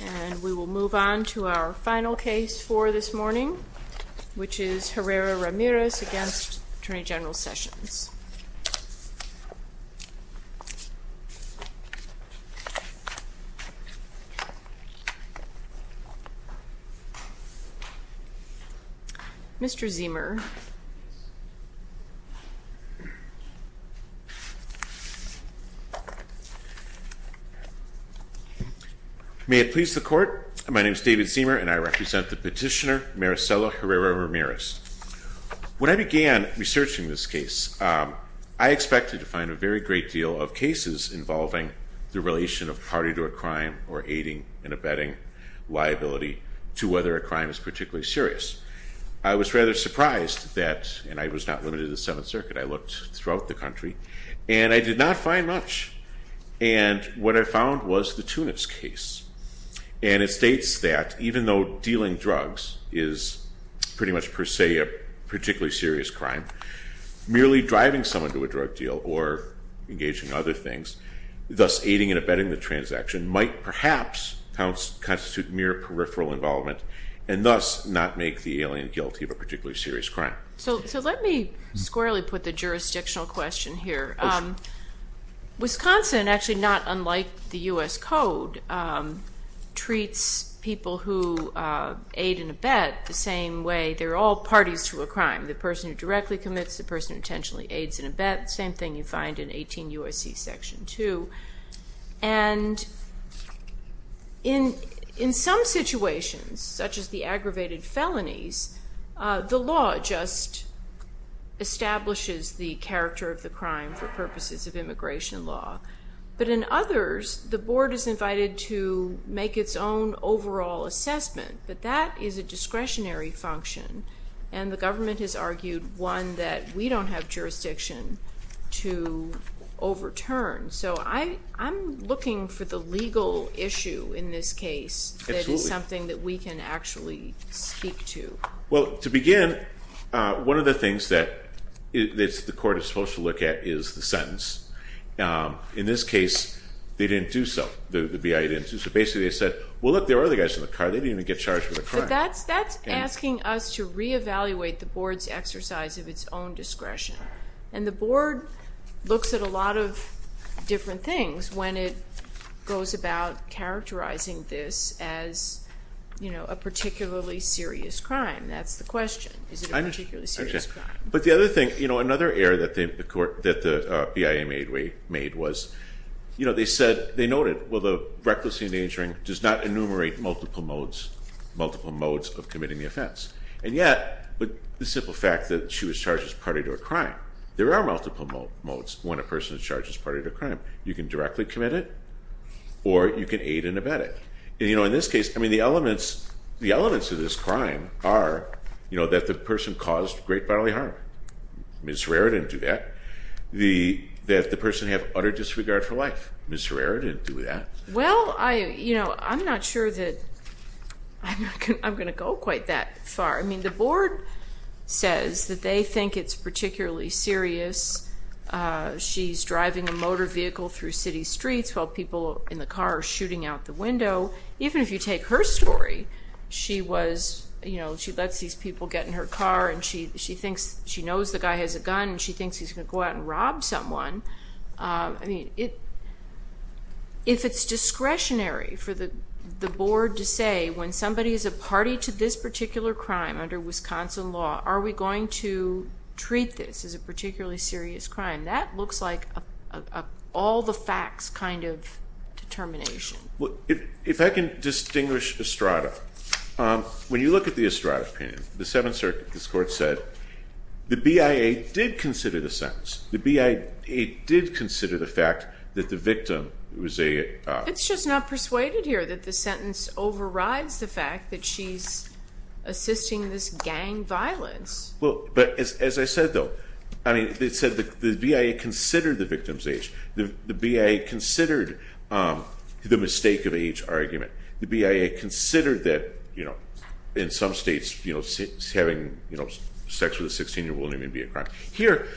And we will move on to our final case for this morning, which is Herrera-Ramirez v. Attorney General Sessions. Mr. Ziemer. May it please the Court, my name is David Ziemer and I represent the petitioner Maricela Herrera-Ramirez. When I began researching this case, I expected to find a very great deal of cases involving the relation of party to a crime or aiding and abetting liability to whether a crime is particularly serious. I was rather surprised that, and I was not limited to the Seventh Circuit, I looked throughout the country, and I did not find much. And what I found was the Tunis case. And it states that even though dealing drugs is pretty much per se a particularly serious crime, merely driving someone to a drug deal or engaging in other things, thus aiding and abetting the transaction, might perhaps constitute mere peripheral involvement and thus not make the alien guilty of a particularly serious crime. So let me squarely put the jurisdictional question here. Wisconsin, actually not unlike the U.S. Code, treats people who aid and abet the same way they're all parties to a crime. The person who directly commits, the person who intentionally aids and abets, same thing you find in 18 U.S.C. Section 2. And in some situations, such as the aggravated felonies, the law just establishes the character of the crime for purposes of immigration law. But in others, the board is invited to make its own overall assessment. But that is a discretionary function, and the government has argued, one, that we don't have jurisdiction to overturn. So I'm looking for the legal issue in this case that is something that we can actually speak to. Well, to begin, one of the things that the court is supposed to look at is the sentence. In this case, they didn't do so. The BIA didn't do so. Basically, they said, well, look, there are other guys in the car. They didn't even get charged with a crime. But that's asking us to reevaluate the board's exercise of its own discretion. And the board looks at a lot of different things when it goes about characterizing this as a particularly serious crime. That's the question. Is it a particularly serious crime? But the other thing, you know, another error that the BIA made was, you know, they said, they noted, well, the recklessly endangering does not enumerate multiple modes of committing the offense. And yet, the simple fact that she was charged as a party to a crime, there are multiple modes when a person is charged as a party to a crime. You can directly commit it or you can aid and abet it. And, you know, in this case, I mean, the elements of this crime are, you know, that the person caused great bodily harm. Ms. Herrera didn't do that. That the person had utter disregard for life. Ms. Herrera didn't do that. Well, I, you know, I'm not sure that I'm going to go quite that far. I mean, the board says that they think it's particularly serious. She's driving a motor vehicle through city streets while people in the car are shooting out the window. Even if you take her story, she was, you know, she lets these people get in her car and she thinks she knows the guy has a gun and she thinks he's going to go out and rob someone. I mean, if it's discretionary for the board to say when somebody is a party to this particular crime under Wisconsin law, are we going to treat this as a particularly serious crime? That looks like an all-the-facts kind of determination. If I can distinguish Estrada. When you look at the Estrada opinion, the Seventh Circuit's court said the BIA did consider the sentence. The BIA did consider the fact that the victim was a... It's just not persuaded here that the sentence overrides the fact that she's assisting this gang violence. Well, but as I said, though, I mean, they said the BIA considered the victim's age. The BIA considered the mistake of age argument. The BIA considered that, you know, in some states, you know, having sex with a 16-year-old wouldn't even be a crime. Here,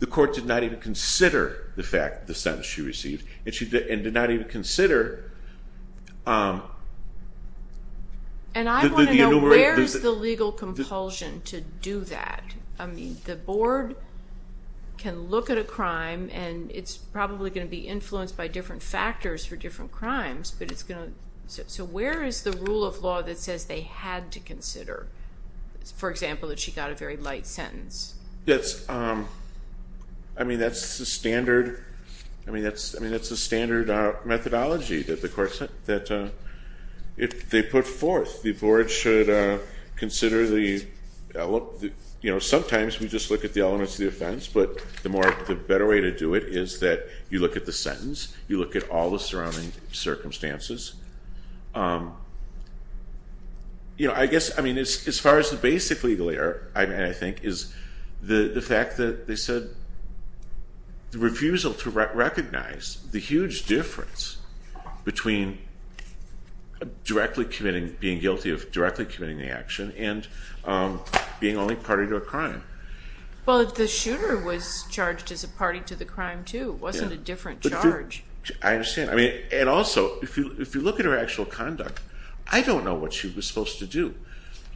the court did not even consider the fact, the sentence she received, and did not even consider... And I want to know where is the legal compulsion to do that? I mean, the board can look at a crime, and it's probably going to be influenced by different factors for different crimes, but it's going to... So where is the rule of law that says they had to consider, for example, that she got a very light sentence? That's... I mean, that's the standard... I mean, that's... I mean, that's the standard methodology that the courts... That if they put forth, the board should consider the... You know, sometimes we just look at the elements of the offense, but the more... The better way to do it is that you look at the sentence. You look at all the surrounding circumstances. You know, I guess... I mean, as far as the basic legal error, I think, is the fact that they said the refusal to recognize the huge difference between directly committing, being guilty of directly committing the action, and being only party to a crime. Well, the shooter was charged as a party to the crime, too. It wasn't a different charge. I understand. And also, if you look at her actual conduct, I don't know what she was supposed to do.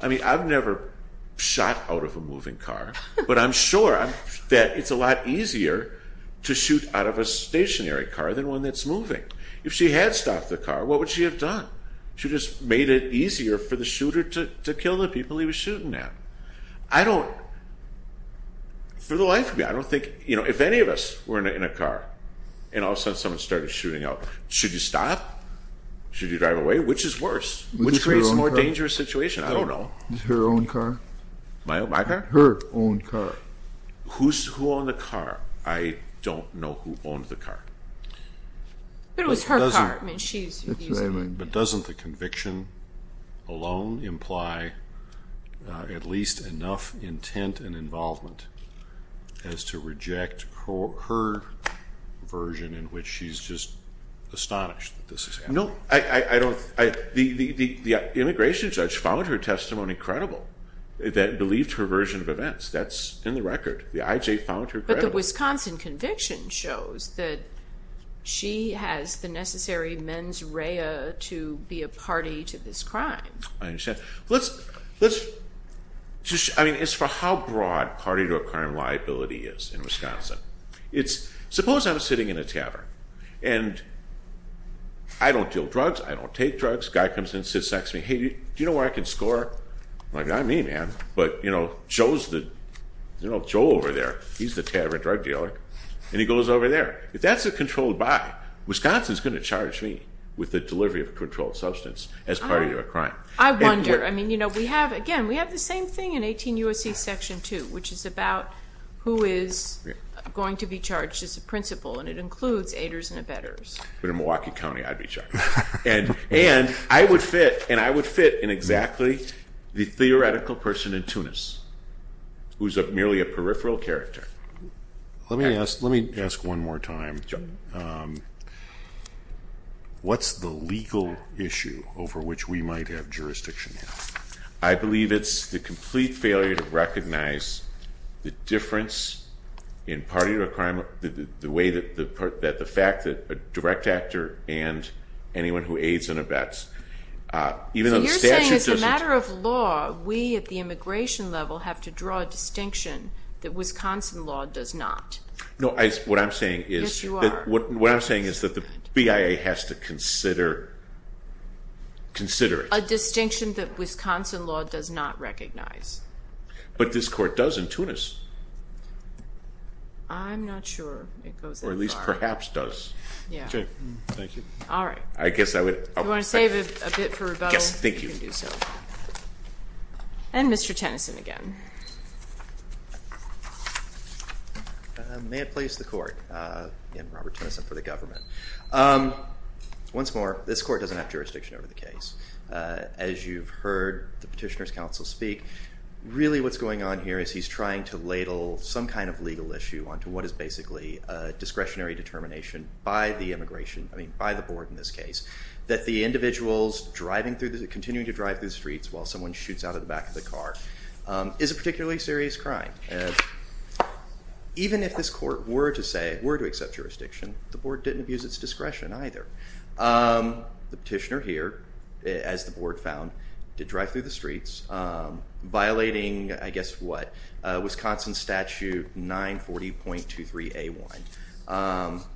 I mean, I've never shot out of a moving car, but I'm sure that it's a lot easier to shoot out of a stationary car than one that's moving. If she had stopped the car, what would she have done? She just made it easier for the shooter to kill the people he was shooting at. I don't... For the life of me, I don't think... In all sense, someone started shooting out. Should you stop? Should you drive away? Which is worse? Which creates a more dangerous situation? I don't know. Her own car? My car? Her own car. Who owned the car? I don't know who owned the car. But it was her car. I mean, she's using it. But doesn't the conviction alone imply at least enough intent and involvement as to reject her version in which she's just astonished that this is happening? No. I don't... The immigration judge found her testimony credible, that believed her version of events. That's in the record. The IJ found her credible. The Wisconsin conviction shows that she has the necessary mens rea to be a party to this crime. I understand. Let's... I mean, as for how broad party to a crime liability is in Wisconsin, it's... Suppose I'm sitting in a tavern. And I don't deal drugs. I don't take drugs. A guy comes in and sits next to me. Hey, do you know where I can score? I'm like, I'm me, man. But, you know, Joe's the... You know, Joe over there, he's the tavern drug dealer. And he goes over there. If that's a controlled buy, Wisconsin's going to charge me with the delivery of a controlled substance as part of your crime. I wonder. I mean, you know, we have... Again, we have the same thing in 18 U.S.C. Section 2, which is about who is going to be charged as a principal. And it includes aiders and abettors. But in Milwaukee County, I'd be charged. And I would fit in exactly the theoretical person in Tunis, who's merely a peripheral character. Let me ask one more time. What's the legal issue over which we might have jurisdiction now? I believe it's the complete failure to recognize the difference in party requirement... the way that the fact that a direct actor and anyone who aids and abets, even though the statute doesn't... So you're saying as a matter of law, we at the immigration level have to draw a distinction that Wisconsin law does not? No, what I'm saying is... Yes, you are. What I'm saying is that the BIA has to consider it. A distinction that Wisconsin law does not recognize. But this Court does in Tunis. I'm not sure it goes that far. Or at least perhaps does. Yeah. Okay, thank you. All right. I guess I would... You want to save a bit for rebuttal? Yes, thank you. You can do so. And Mr. Tennyson again. May it please the Court. Again, Robert Tennyson for the government. Once more, this Court doesn't have jurisdiction over the case. As you've heard the Petitioner's Counsel speak, really what's going on here is he's trying to ladle some kind of legal issue... onto what is basically a discretionary determination by the immigration... I mean by the Board in this case. That the individuals driving through the... continuing to drive through the streets while someone shoots out of the back of the car... is a particularly serious crime. Even if this Court were to say, were to accept jurisdiction, the Board didn't abuse its discretion either. The Petitioner here, as the Board found, did drive through the streets, violating, I guess, what? Wisconsin Statute 940.23A1.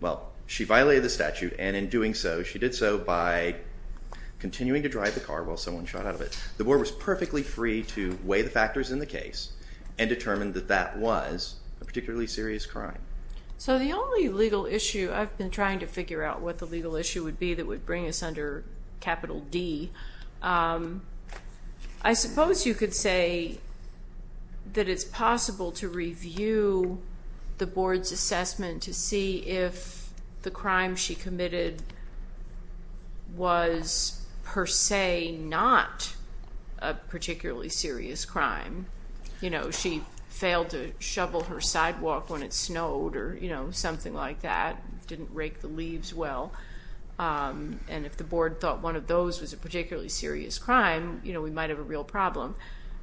Well, she violated the statute and in doing so, she did so by continuing to drive the car while someone shot out of it. The Board was perfectly free to weigh the factors in the case and determine that that was a particularly serious crime. So, the only legal issue... I've been trying to figure out what the legal issue would be that would bring us under Capital D. I suppose you could say that it's possible to review the Board's assessment to see if the crime she committed... was per se, not a particularly serious crime. You know, she failed to shovel her sidewalk when it snowed or, you know, something like that. Didn't rake the leaves well. And, if the Board thought one of those was a particularly serious crime, you know, we might have a real problem.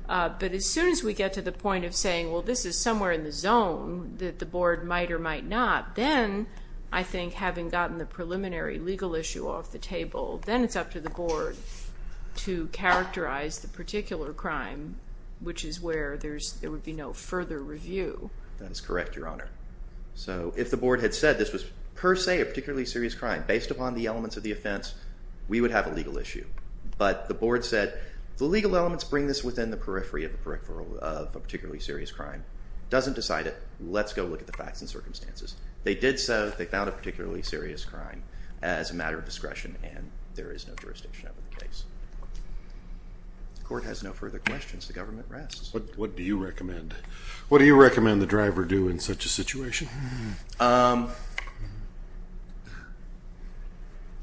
But, as soon as we get to the point of saying, well, this is somewhere in the zone that the Board might or might not... Then, I think having gotten the preliminary legal issue off the table, then it's up to the Board to characterize the particular crime... which is where there's... there would be no further review. That is correct, Your Honor. So, if the Board had said this was per se, a particularly serious crime, based upon the elements of the offense, we would have a legal issue. But, the Board said, the legal elements bring this within the periphery of a particularly serious crime. Doesn't decide it. Let's go look at the facts and circumstances. They did so. They found a particularly serious crime as a matter of discretion and there is no jurisdiction over the case. The Court has no further questions. The Government rests. What do you recommend? What do you recommend the driver do in such a situation?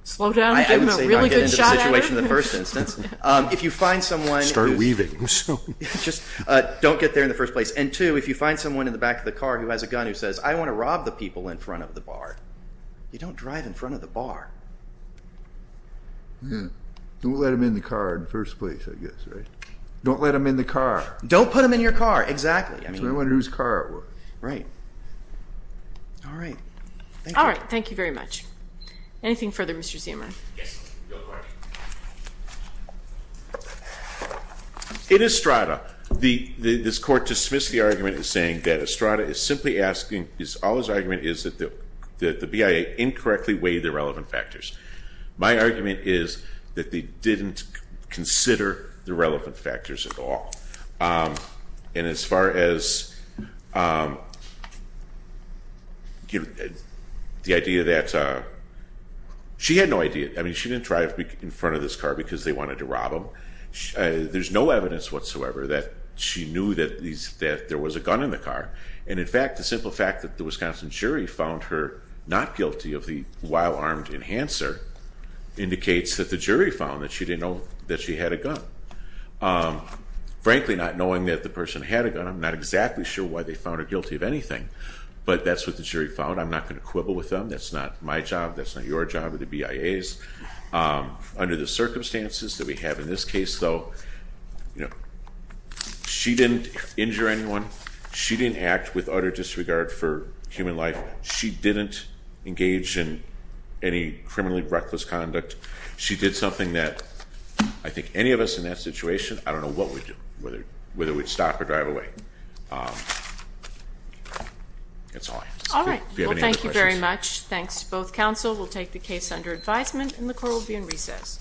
Slow down. Give him a really good shot at it. I would say don't get into the situation in the first instance. If you find someone... Start weaving. Just don't get there in the first place. And two, if you find someone in the back of the car who has a gun who says, I want to rob the people in front of the bar. You don't drive in front of the bar. Don't let them in the car in the first place, I guess, right? Don't let them in the car. Don't put them in your car. Exactly. That's what I mean. I don't want to lose a car at work. Right. All right. Thank you. All right. Thank you very much. Anything further, Mr. Ziemer? Yes. In Estrada, this Court dismissed the argument as saying that Estrada is simply asking... All his argument is that the BIA incorrectly weighed the relevant factors. My argument is that they didn't consider the relevant factors at all. And as far as... The idea that... She had no idea. I mean, she didn't drive in front of this car because they wanted to rob him. There's no evidence whatsoever that she knew that there was a gun in the car. And, in fact, the simple fact that the Wisconsin jury found her not guilty of the wild-armed enhancer... indicates that the jury found that she didn't know that she had a gun. Frankly, not knowing that the person had a gun, I'm not exactly sure why they found her guilty of anything. But, that's what the jury found. I'm not going to quibble with them. That's not my job. That's not your job with the BIAs. Under the circumstances that we have in this case, though... She didn't injure anyone. She didn't act with utter disregard for human life. She didn't engage in any criminally reckless conduct. She did something that I think any of us in that situation... I don't know what we'd do. Whether we'd stop or drive away. That's all I have to say. All right. Well, thank you very much. Thanks to both counsel. We'll take the case under advisement and the court will be in recess.